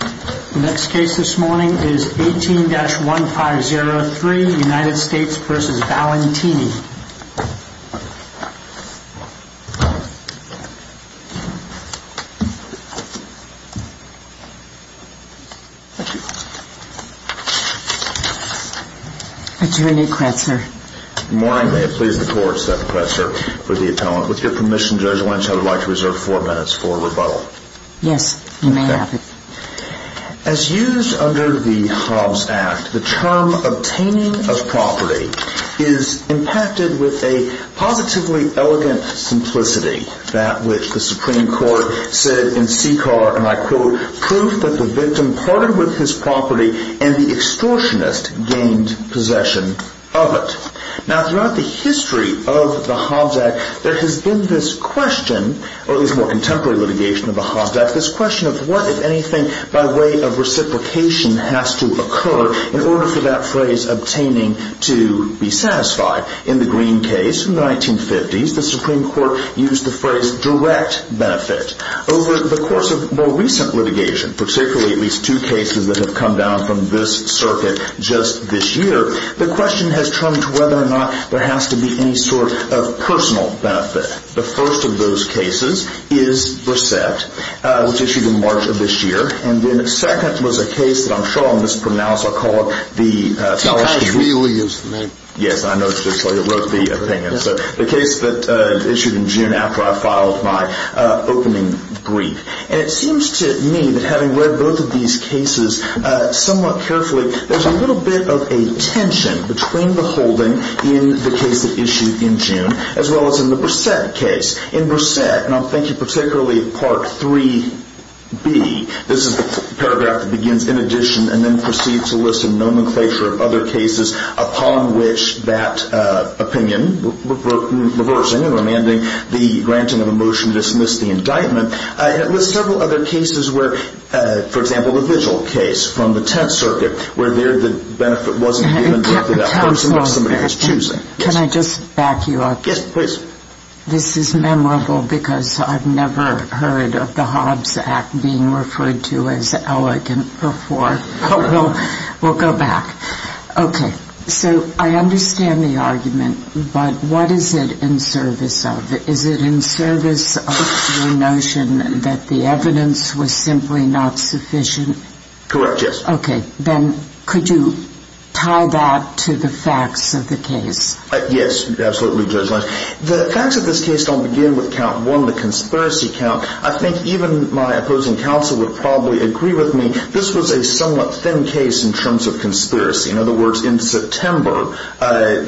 18-1503 U.S. v. Valentini Attorney Kretzner Good morning, may it please the court, Seth Kretzner for the appellant. With your permission, Judge Lynch, I would like to reserve four minutes for rebuttal. Yes, you may have it. As used under the Hobbs Act, the term obtaining of property is impacted with a positively elegant simplicity, that which the Supreme Court said in CCAR, and I quote, proof that the victim parted with his property and the extortionist gained possession of it. Now, throughout the history of the Hobbs Act, there has been this question, or at least more contemporary litigation of the Hobbs Act, this question of what, if anything, by way of reciprocation has to occur in order for that phrase obtaining to be satisfied. In the Green case from the 1950s, the Supreme Court used the phrase direct benefit. Over the course of more recent litigation, particularly at least two cases that have come down from this circuit just this year, the question has turned to whether or not there has to be any sort of personal benefit. The first of those cases is Brissette, which issued in March of this year, and then second was a case that I'm sure I'll mispronounce. I'll call it the Tallahassee case. Tallahassee, we use the name. Yes, I noticed it, so I wrote the opinion. So the case that issued in June after I filed my opening brief. And it seems to me that having read both of these cases somewhat carefully, there's a little bit of a tension between the holding in the case that issued in June as well as in the Brissette case. In Brissette, and I'm thinking particularly of Part 3B, this is the paragraph that begins in addition and then proceeds to list a nomenclature of other cases upon which that opinion, reversing and remanding the granting of a motion to dismiss the indictment, lists several other cases where, for example, the Vigil case from the Tett circuit where there the benefit wasn't given directly to that person or somebody who's choosing. Can I just back you up? Yes, please. This is memorable because I've never heard of the Hobbs Act being referred to as elegant before. We'll go back. Okay. So I understand the argument, but what is it in service of? Is it in service of your notion that the evidence was simply not sufficient? Correct, yes. Okay. Ben, could you tie that to the facts of the case? Yes, absolutely, Judge Lynch. The facts of this case don't begin with count one, the conspiracy count. I think even my opposing counsel would probably agree with me this was a somewhat thin case in terms of conspiracy. In other words, in September,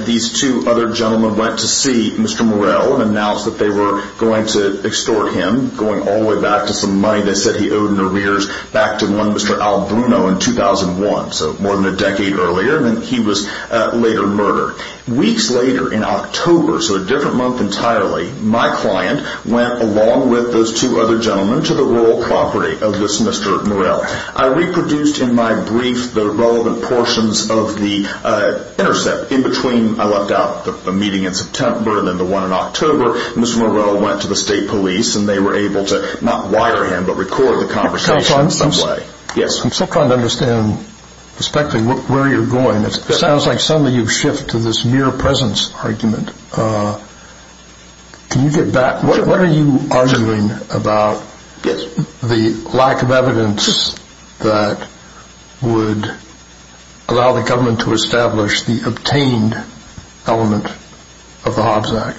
these two other gentlemen went to see Mr. Morell and announced that they were going to extort him, going all the way back to some money they said he owed in arrears back to one Mr. Al Bruno in 2001, so more than a decade earlier, and then he was later murdered. Weeks later in October, so a different month entirely, my client went along with those two other gentlemen to the rural property of this Mr. Morell. I reproduced in my brief the relevant portions of the intercept in between. I left out the meeting in September and then the one in October. Mr. Morell went to the state police and they were able to not wire him but record the conversation in some way. I'm still trying to understand, respectfully, where you're going. It sounds like suddenly you've shifted to this mere presence argument. Can you get back? What are you arguing about the lack of evidence that would allow the government to establish the obtained element of the Hobbs Act?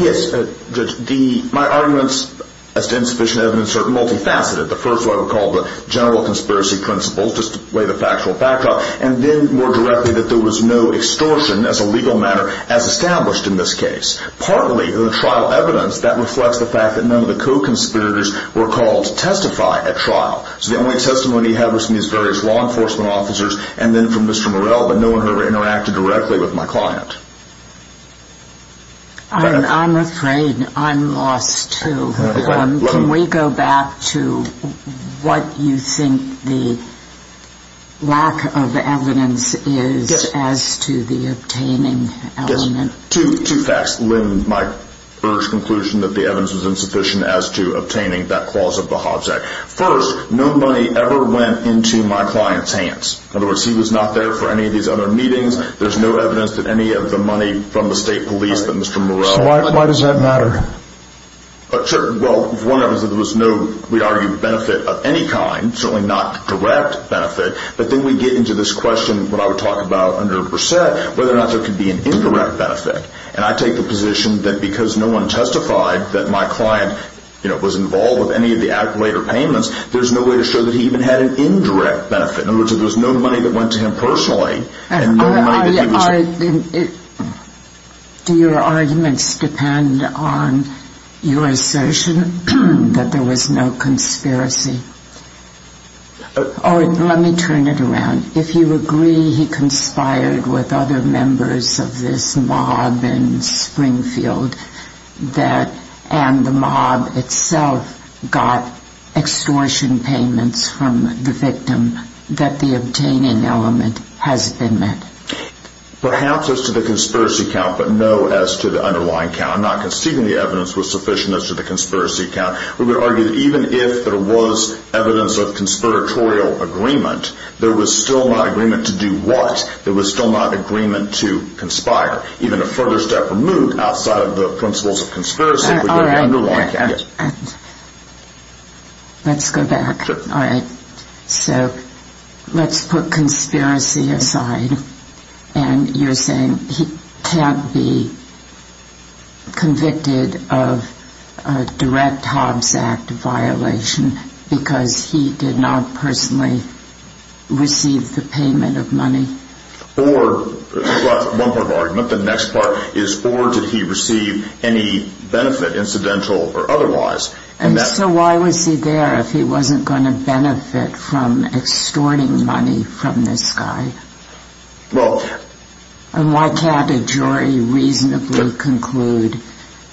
Yes, Judge, my arguments as to insufficient evidence are multifaceted. The first one I would call the general conspiracy principles, just to lay the factual backdrop, and then more directly that there was no extortion as a legal matter as established in this case. Partly the trial evidence that reflects the fact that none of the co-conspirators were called to testify at trial. So the only testimony he had was from these various law enforcement officers and then from Mr. Morell, but no one heard or interacted directly with my client. I'm afraid I'm lost too. Can we go back to what you think the lack of evidence is as to the obtaining element? Yes, two facts. One, my first conclusion that the evidence was insufficient as to obtaining that clause of the Hobbs Act. First, no money ever went into my client's hands. In other words, he was not there for any of these other meetings. There's no evidence that any of the money from the state police that Mr. Morell So why does that matter? Well, one of them is that there was no, we'd argue, benefit of any kind, certainly not direct benefit. But then we get into this question, what I would talk about under the precept, whether or not there could be an incorrect benefit. And I take the position that because no one testified that my client was involved with any of the accolade or payments, there's no way to show that he even had an indirect benefit. In other words, there was no money that went to him personally and no money that he was Do your arguments depend on your assertion that there was no conspiracy? Let me turn it around. If you agree he conspired with other members of this mob in Springfield and the mob itself got extortion payments from the victim, that the obtaining element has been met? Perhaps as to the conspiracy count, but no as to the underlying count. I'm not conceding the evidence was sufficient as to the conspiracy count. We would argue that even if there was evidence of conspiratorial agreement, there was still not agreement to do what? There was still not agreement to conspire. Even a further step removed outside of the principles of conspiracy would be the underlying count. All right. Let's go back. All right. So let's put conspiracy aside. And you're saying he can't be convicted of a direct Hobbs Act violation because he did not personally receive the payment of money? Well, that's one part of the argument. The next part is, or did he receive any benefit, incidental or otherwise? And so why was he there if he wasn't going to benefit from extorting money from this guy? And why can't a jury reasonably conclude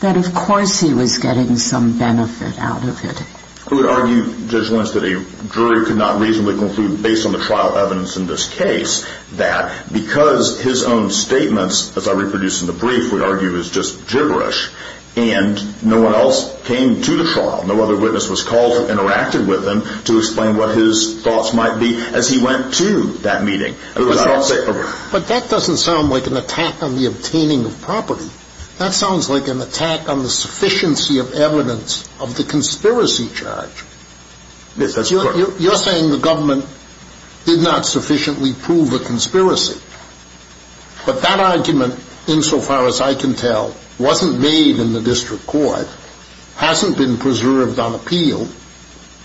that of course he was getting some benefit out of it? I would argue, Judge Lynch, that a jury could not reasonably conclude, based on the trial evidence in this case, that because his own statements, as I reproduced in the brief, we'd argue is just gibberish, and no one else came to the trial, no other witness was called to interact with him to explain what his thoughts might be as he went to that meeting. But that doesn't sound like an attack on the obtaining of property. That sounds like an attack on the sufficiency of evidence of the conspiracy charge. Yes, that's correct. You're saying the government did not sufficiently prove the conspiracy. But that argument, insofar as I can tell, wasn't made in the district court, hasn't been preserved on appeal,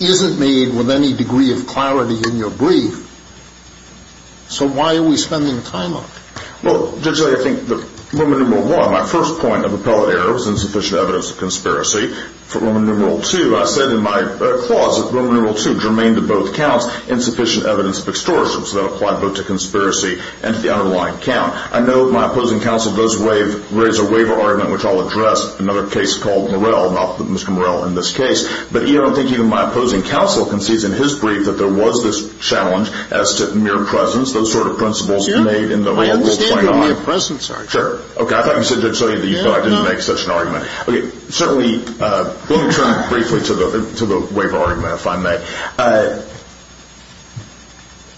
isn't made with any degree of clarity in your brief. So why are we spending time on it? Well, Judge Lynch, I think that in Roman numeral one, my first point of appellate error was insufficient evidence of conspiracy. For Roman numeral two, I said in my clause that Roman numeral two, germane to both counts, insufficient evidence of extortion. So that applied both to conspiracy and to the underlying count. I know my opposing counsel does raise a waiver argument, which I'll address in another case called Morell, not Mr. Morell in this case. But I don't think even my opposing counsel concedes in his brief that there was this challenge as to mere presence, those sort of principles made in the Rule 29. I understand where mere presence are. Sure. Okay. I thought you said, Judge Sully, that you thought I didn't make such an argument. Okay. Certainly, let me turn briefly to the waiver argument, if I may.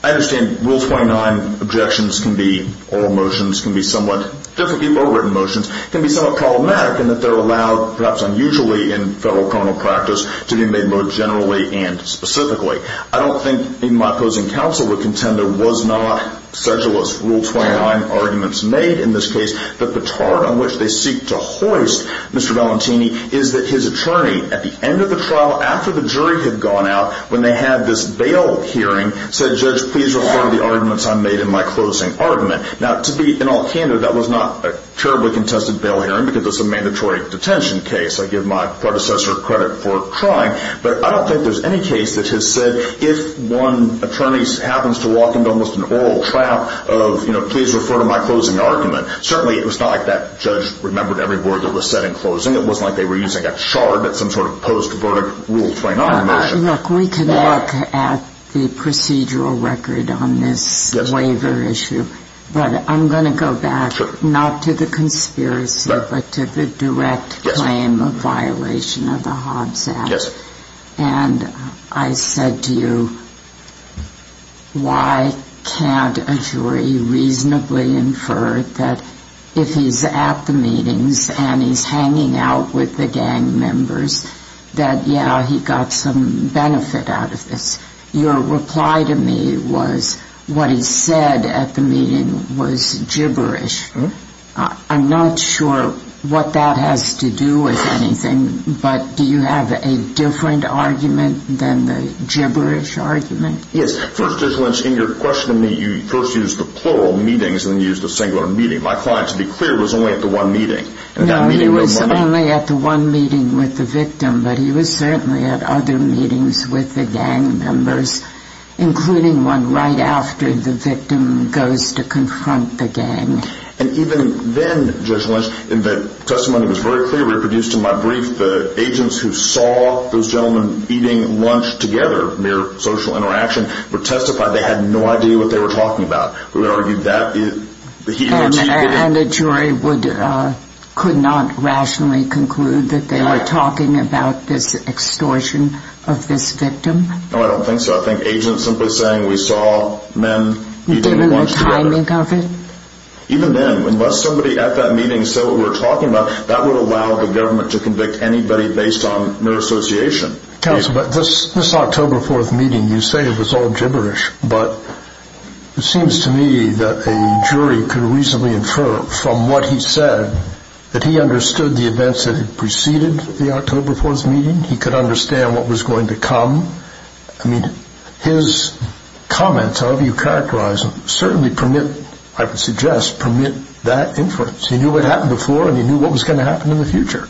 I understand Rule 29 objections can be oral motions, can be somewhat different from overwritten motions, can be somewhat problematic in that they're allowed, perhaps unusually in federal criminal practice, to be made more generally and specifically. I don't think even my opposing counsel would contend there was not, such as was Rule 29 arguments made in this case, that the chart on which they seek to hoist Mr. Valentini is that his attorney, at the end of the trial, after the jury had gone out, when they had this bail hearing, said, Judge, please refer to the arguments I made in my closing argument. Now, to be in all candor, that was not a terribly contested bail hearing because it's a mandatory detention case. I give my predecessor credit for trying. But I don't think there's any case that has said if one attorney happens to walk into almost an oral trial of, you know, please refer to my closing argument. Certainly, it was not like that judge remembered every word that was said in closing. It wasn't like they were using a chart at some sort of post-verdict Rule 29 motion. Look, we can look at the procedural record on this waiver issue. But I'm going to go back not to the conspiracy but to the direct claim of violation of the Hobbs Act. And I said to you, why can't a jury reasonably infer that if he's at the meetings and he's hanging out with the gang members, that, yeah, he got some benefit out of this? Your reply to me was what he said at the meeting was gibberish. I'm not sure what that has to do with anything. But do you have a different argument than the gibberish argument? Yes. First, Judge Lynch, in your question to me, you first used the plural meetings and then you used the singular meeting. My client, to be clear, was only at the one meeting. No, he was only at the one meeting with the victim. But he was certainly at other meetings with the gang members, including one right after the victim goes to confront the gang. And even then, Judge Lynch, the testimony was very clear, reproduced in my brief, the agents who saw those gentlemen eating lunch together, mere social interaction, would testify they had no idea what they were talking about. We would argue that he had cheated. And the jury could not rationally conclude that they were talking about this extortion of this victim? No, I don't think so. I think agents simply saying we saw men eating lunch together. Given the timing of it? Even then, unless somebody at that meeting said what we were talking about, that would allow the government to convict anybody based on mere association. Counsel, but this October 4th meeting, you say it was all gibberish, but it seems to me that a jury could reasonably infer from what he said that he understood the events that had preceded the October 4th meeting. He could understand what was going to come. I mean, his comments, however you characterize them, certainly permit, I would suggest, permit that inference. He knew what happened before, and he knew what was going to happen in the future.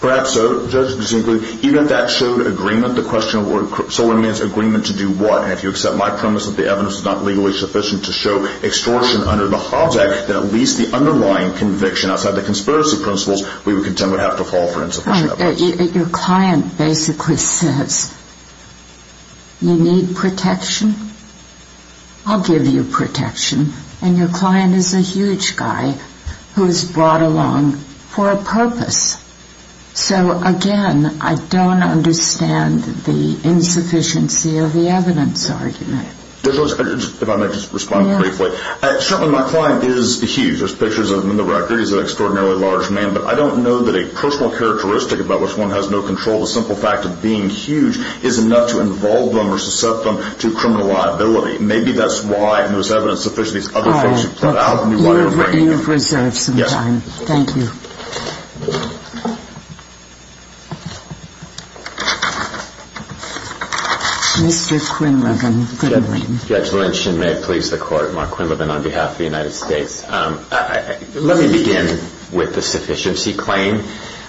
Perhaps so. Even if that showed agreement, the question of what agreement to do what? And if you accept my premise that the evidence is not legally sufficient to show extortion under the Hobbs Act, then at least the underlying conviction outside the conspiracy principles, we would contend would have to fall for insufficient evidence. Your client basically says, you need protection? I'll give you protection. And your client is a huge guy who is brought along for a purpose. So, again, I don't understand the insufficiency of the evidence argument. If I may just respond briefly. Certainly, my client is huge. There's pictures of him in the record. He's an extraordinarily large man. But I don't know that a personal characteristic about which one has no control, the simple fact of being huge, is enough to involve them or suscept them to criminal liability. Maybe that's why most evidence suffices. These other things you've brought out. You have reserved some time. Thank you. Thank you. Mr. Quinlivan. Judge Lynch, and may it please the Court, Mark Quinlivan on behalf of the United States. Let me begin with the sufficiency claim.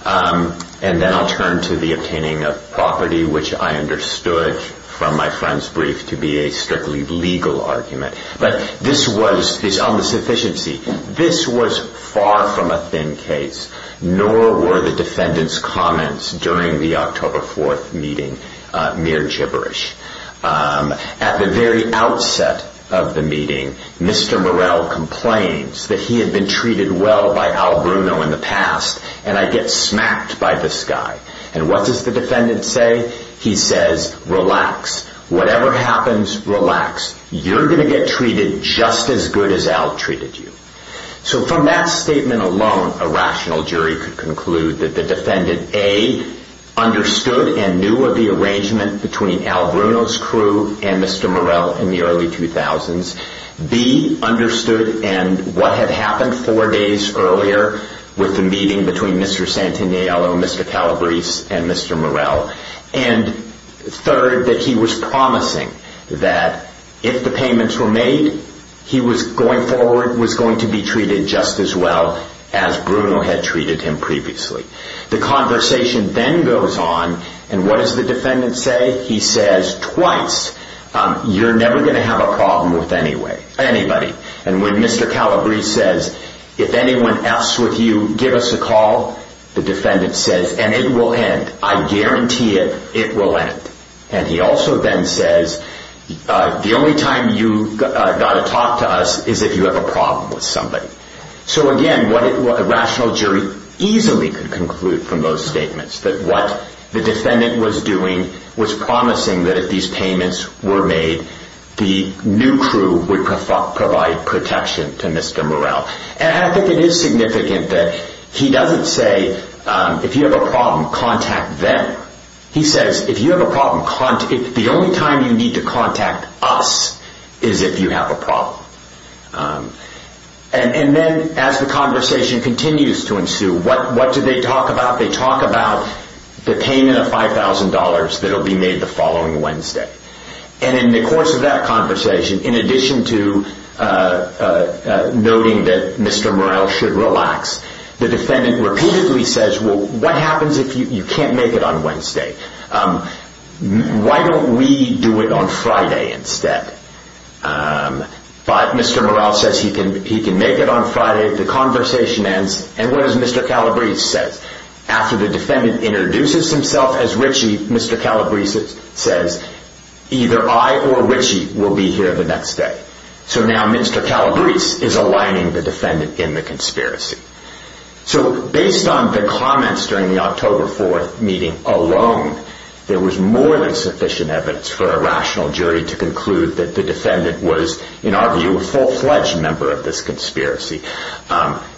And then I'll turn to the obtaining of property, which I understood from my friend's brief to be a strictly legal argument. But this was, on the sufficiency, this was far from a thin case, nor were the defendant's comments during the October 4th meeting mere gibberish. At the very outset of the meeting, Mr. Morell complains that he had been treated well by Al Bruno in the past, and I get smacked by this guy. And what does the defendant say? He says, relax. Whatever happens, relax. You're going to get treated just as good as Al treated you. So from that statement alone, a rational jury could conclude that the defendant, A, understood and knew of the arrangement between Al Bruno's crew and Mr. Morell in the early 2000s, B, understood and what had happened four days earlier with the meeting between Mr. Santaniello, Mr. Calabrese, and Mr. Morell, and third, that he was promising that if the payments were made, he was going forward, was going to be treated just as well as Bruno had treated him previously. The conversation then goes on, and what does the defendant say? He says twice, you're never going to have a problem with anybody. And when Mr. Calabrese says, if anyone else with you, give us a call, the defendant says, and it will end. I guarantee it, it will end. And he also then says, the only time you've got to talk to us is if you have a problem with somebody. So again, what a rational jury easily could conclude from those statements, that what the defendant was doing was promising that if these payments were made, the new crew would provide protection to Mr. Morell. And I think it is significant that he doesn't say, if you have a problem, contact them. He says, if you have a problem, the only time you need to contact us is if you have a problem. And then as the conversation continues to ensue, what do they talk about? They talk about the payment of $5,000 that will be made the following Wednesday. And in the course of that conversation, in addition to noting that Mr. Morell should relax, the defendant repeatedly says, well, what happens if you can't make it on Wednesday? Why don't we do it on Friday instead? But Mr. Morell says he can make it on Friday, the conversation ends, and what does Mr. Calabrese say? He says, after the defendant introduces himself as Ritchie, Mr. Calabrese says, either I or Ritchie will be here the next day. So now Mr. Calabrese is aligning the defendant in the conspiracy. So based on the comments during the October 4th meeting alone, there was more than sufficient evidence for a rational jury to conclude that the defendant was, in our view, a full-fledged member of this conspiracy.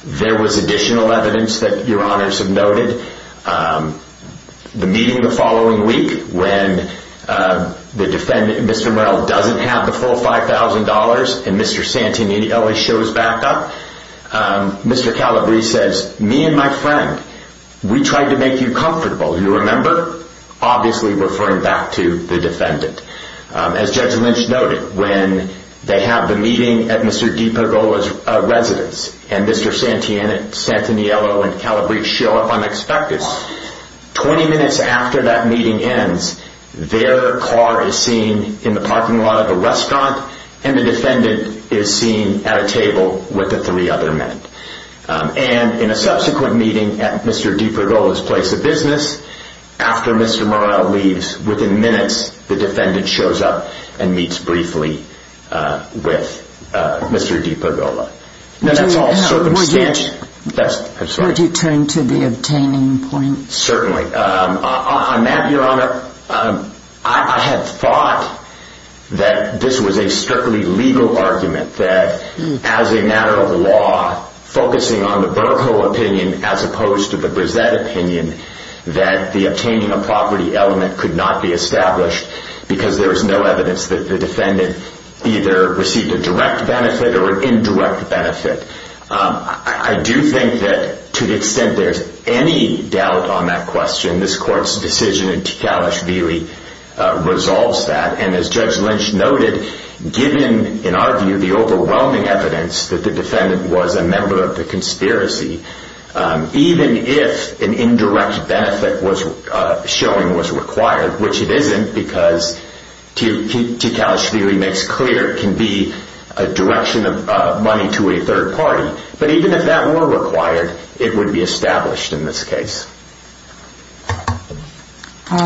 There was additional evidence that Your Honors have noted. The meeting the following week, when Mr. Morell doesn't have the full $5,000 and Mr. Santinelli shows back up, Mr. Calabrese says, me and my friend, we tried to make you comfortable. As Judge Lynch noted, when they have the meeting at Mr. DiPagola's residence and Mr. Santiniello and Calabrese show up unexpected, 20 minutes after that meeting ends, their car is seen in the parking lot of a restaurant and the defendant is seen at a table with the three other men. And in a subsequent meeting at Mr. DiPagola's place of business, after Mr. Morell leaves, within minutes, the defendant shows up and meets briefly with Mr. DiPagola. Now that's all circumstance. Would you turn to the obtaining points? Certainly. On that, Your Honor, I had thought that this was a strictly legal argument, that as a matter of law, focusing on the Bercow opinion as opposed to the Brissett opinion, that the obtaining of property element could not be established because there is no evidence that the defendant either received a direct benefit or an indirect benefit. I do think that to the extent there's any doubt on that question, this Court's decision in Tikalashvili resolves that. And as Judge Lynch noted, given, in our view, the overwhelming evidence that the defendant was a member of the conspiracy, even if an indirect benefit showing was required, which it isn't because Tikalashvili makes clear it can be a direction of money to a third party, but even if that were required, it would be established in this case. So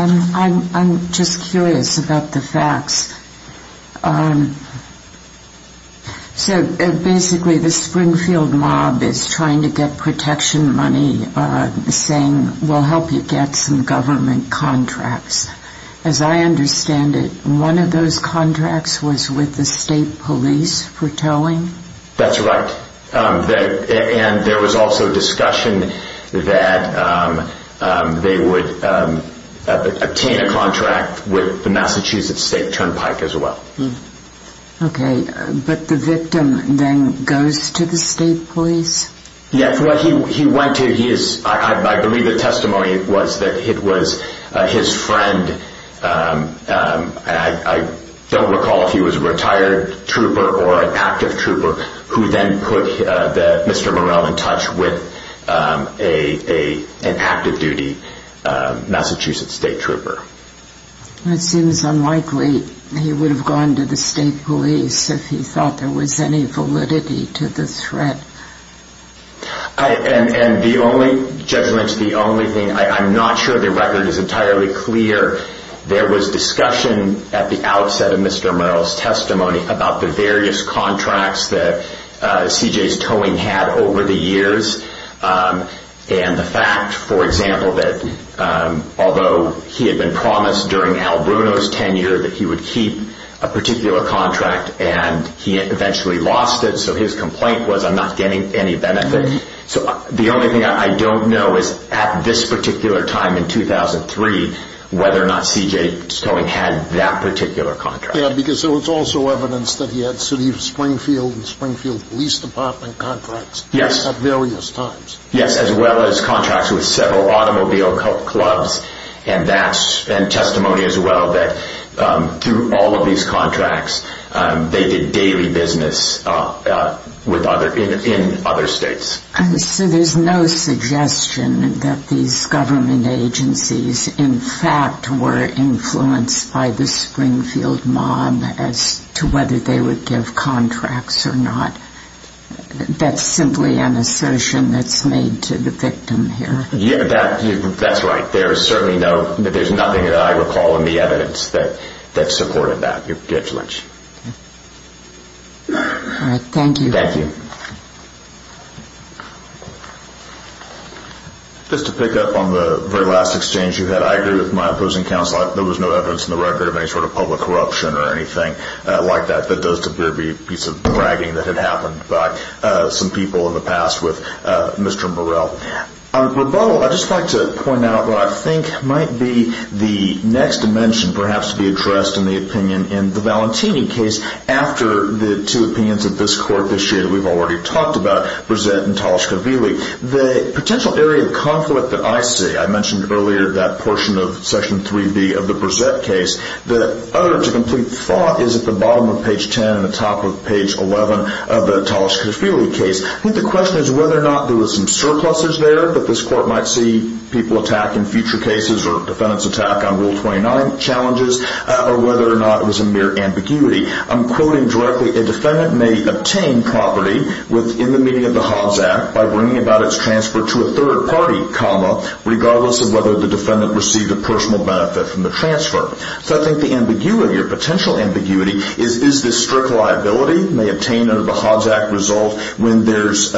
basically the Springfield mob is trying to get protection money, saying we'll help you get some government contracts. As I understand it, one of those contracts was with the state police for towing? That's right. And there was also discussion that they would obtain a contract with the Massachusetts State Turnpike as well. Okay. But the victim then goes to the state police? Yes. I believe the testimony was that it was his friend. I don't recall if he was a retired trooper or an active trooper who then put Mr. Morell in touch with an active-duty Massachusetts state trooper. It seems unlikely he would have gone to the state police if he thought there was any validity to the threat. And Judge Lynch, the only thing, I'm not sure the record is entirely clear. There was discussion at the outset of Mr. Morell's testimony about the various contracts that C.J.'s Towing had over the years and the fact, for example, that although he had been promised during Al Bruno's tenure that he would keep a particular contract and he eventually lost it, so his complaint was, I'm not getting any benefit. So the only thing I don't know is at this particular time in 2003 whether or not C.J.'s Towing had that particular contract. Yeah, because there was also evidence that he had City of Springfield and Springfield Police Department contracts at various times. Yes, as well as contracts with several automobile clubs and testimony as well that through all of these contracts they did daily business in other states. So there's no suggestion that these government agencies, in fact, were influenced by the Springfield mob as to whether they would give contracts or not. That's simply an assertion that's made to the victim here. Yeah, that's right. There's nothing that I recall in the evidence that supported that, Judge Lynch. All right, thank you. Thank you. Just to pick up on the very last exchange you had, I agree with my opposing counsel. There was no evidence in the record of any sort of public corruption or anything like that that does appear to be a piece of bragging that had happened by some people in the past with Mr. Morell. On rebuttal, I'd just like to point out what I think might be the next dimension perhaps to be addressed in the opinion in the Valentini case after the two opinions of this Court this year that we've already talked about, Brezet and Talashkavili. The potential area of conflict that I see, I mentioned earlier that portion of Section 3B of the Brezet case, that uttered to complete thought is at the bottom of page 10 and the top of page 11 of the Talashkavili case. I think the question is whether or not there was some surpluses there that this Court might see people attack in future cases or defendants attack on Rule 29 challenges or whether or not it was a mere ambiguity. I'm quoting directly, a defendant may obtain property within the meaning of the Hobbs Act by bringing about its transfer to a third party, regardless of whether the defendant received a personal benefit from the transfer. So I think the ambiguity or potential ambiguity is, is this strict liability may obtain under the Hobbs Act result when there's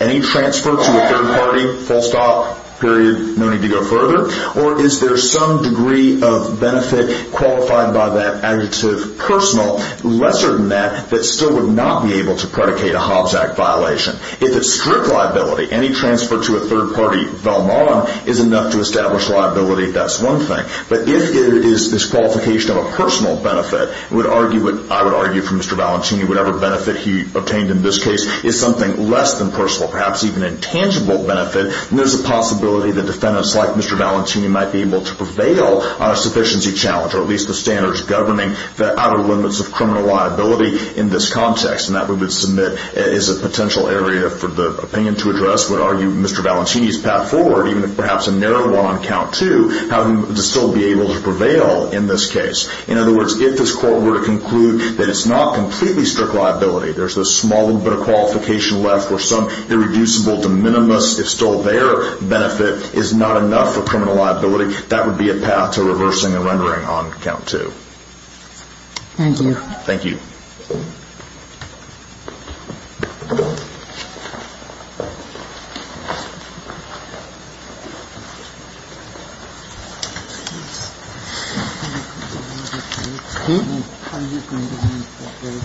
any transfer to a third party, full stop, period, no need to go further, or is there some degree of benefit qualified by that adjective personal, lesser than that, that still would not be able to predicate a Hobbs Act violation. If it's strict liability, any transfer to a third party, Velmon, is enough to establish liability if that's one thing. But if it is this qualification of a personal benefit, I would argue for Mr. Valentini whatever benefit he obtained in this case is something less than personal, perhaps even a tangible benefit, and there's a possibility that defendants like Mr. Valentini might be able to prevail on a sufficiency challenge, or at least the standards governing the outer limits of criminal liability in this context, and that we would submit is a potential area for the opinion to address, would argue Mr. Valentini's path forward, even if perhaps a narrow one on count two, how he would still be able to prevail in this case. In other words, if this court were to conclude that it's not completely strict liability, there's this small little bit of qualification left where some irreducible de minimis, if still there, benefit is not enough for criminal liability, that would be a path to reversing and rendering on count two. Thank you. Thank you.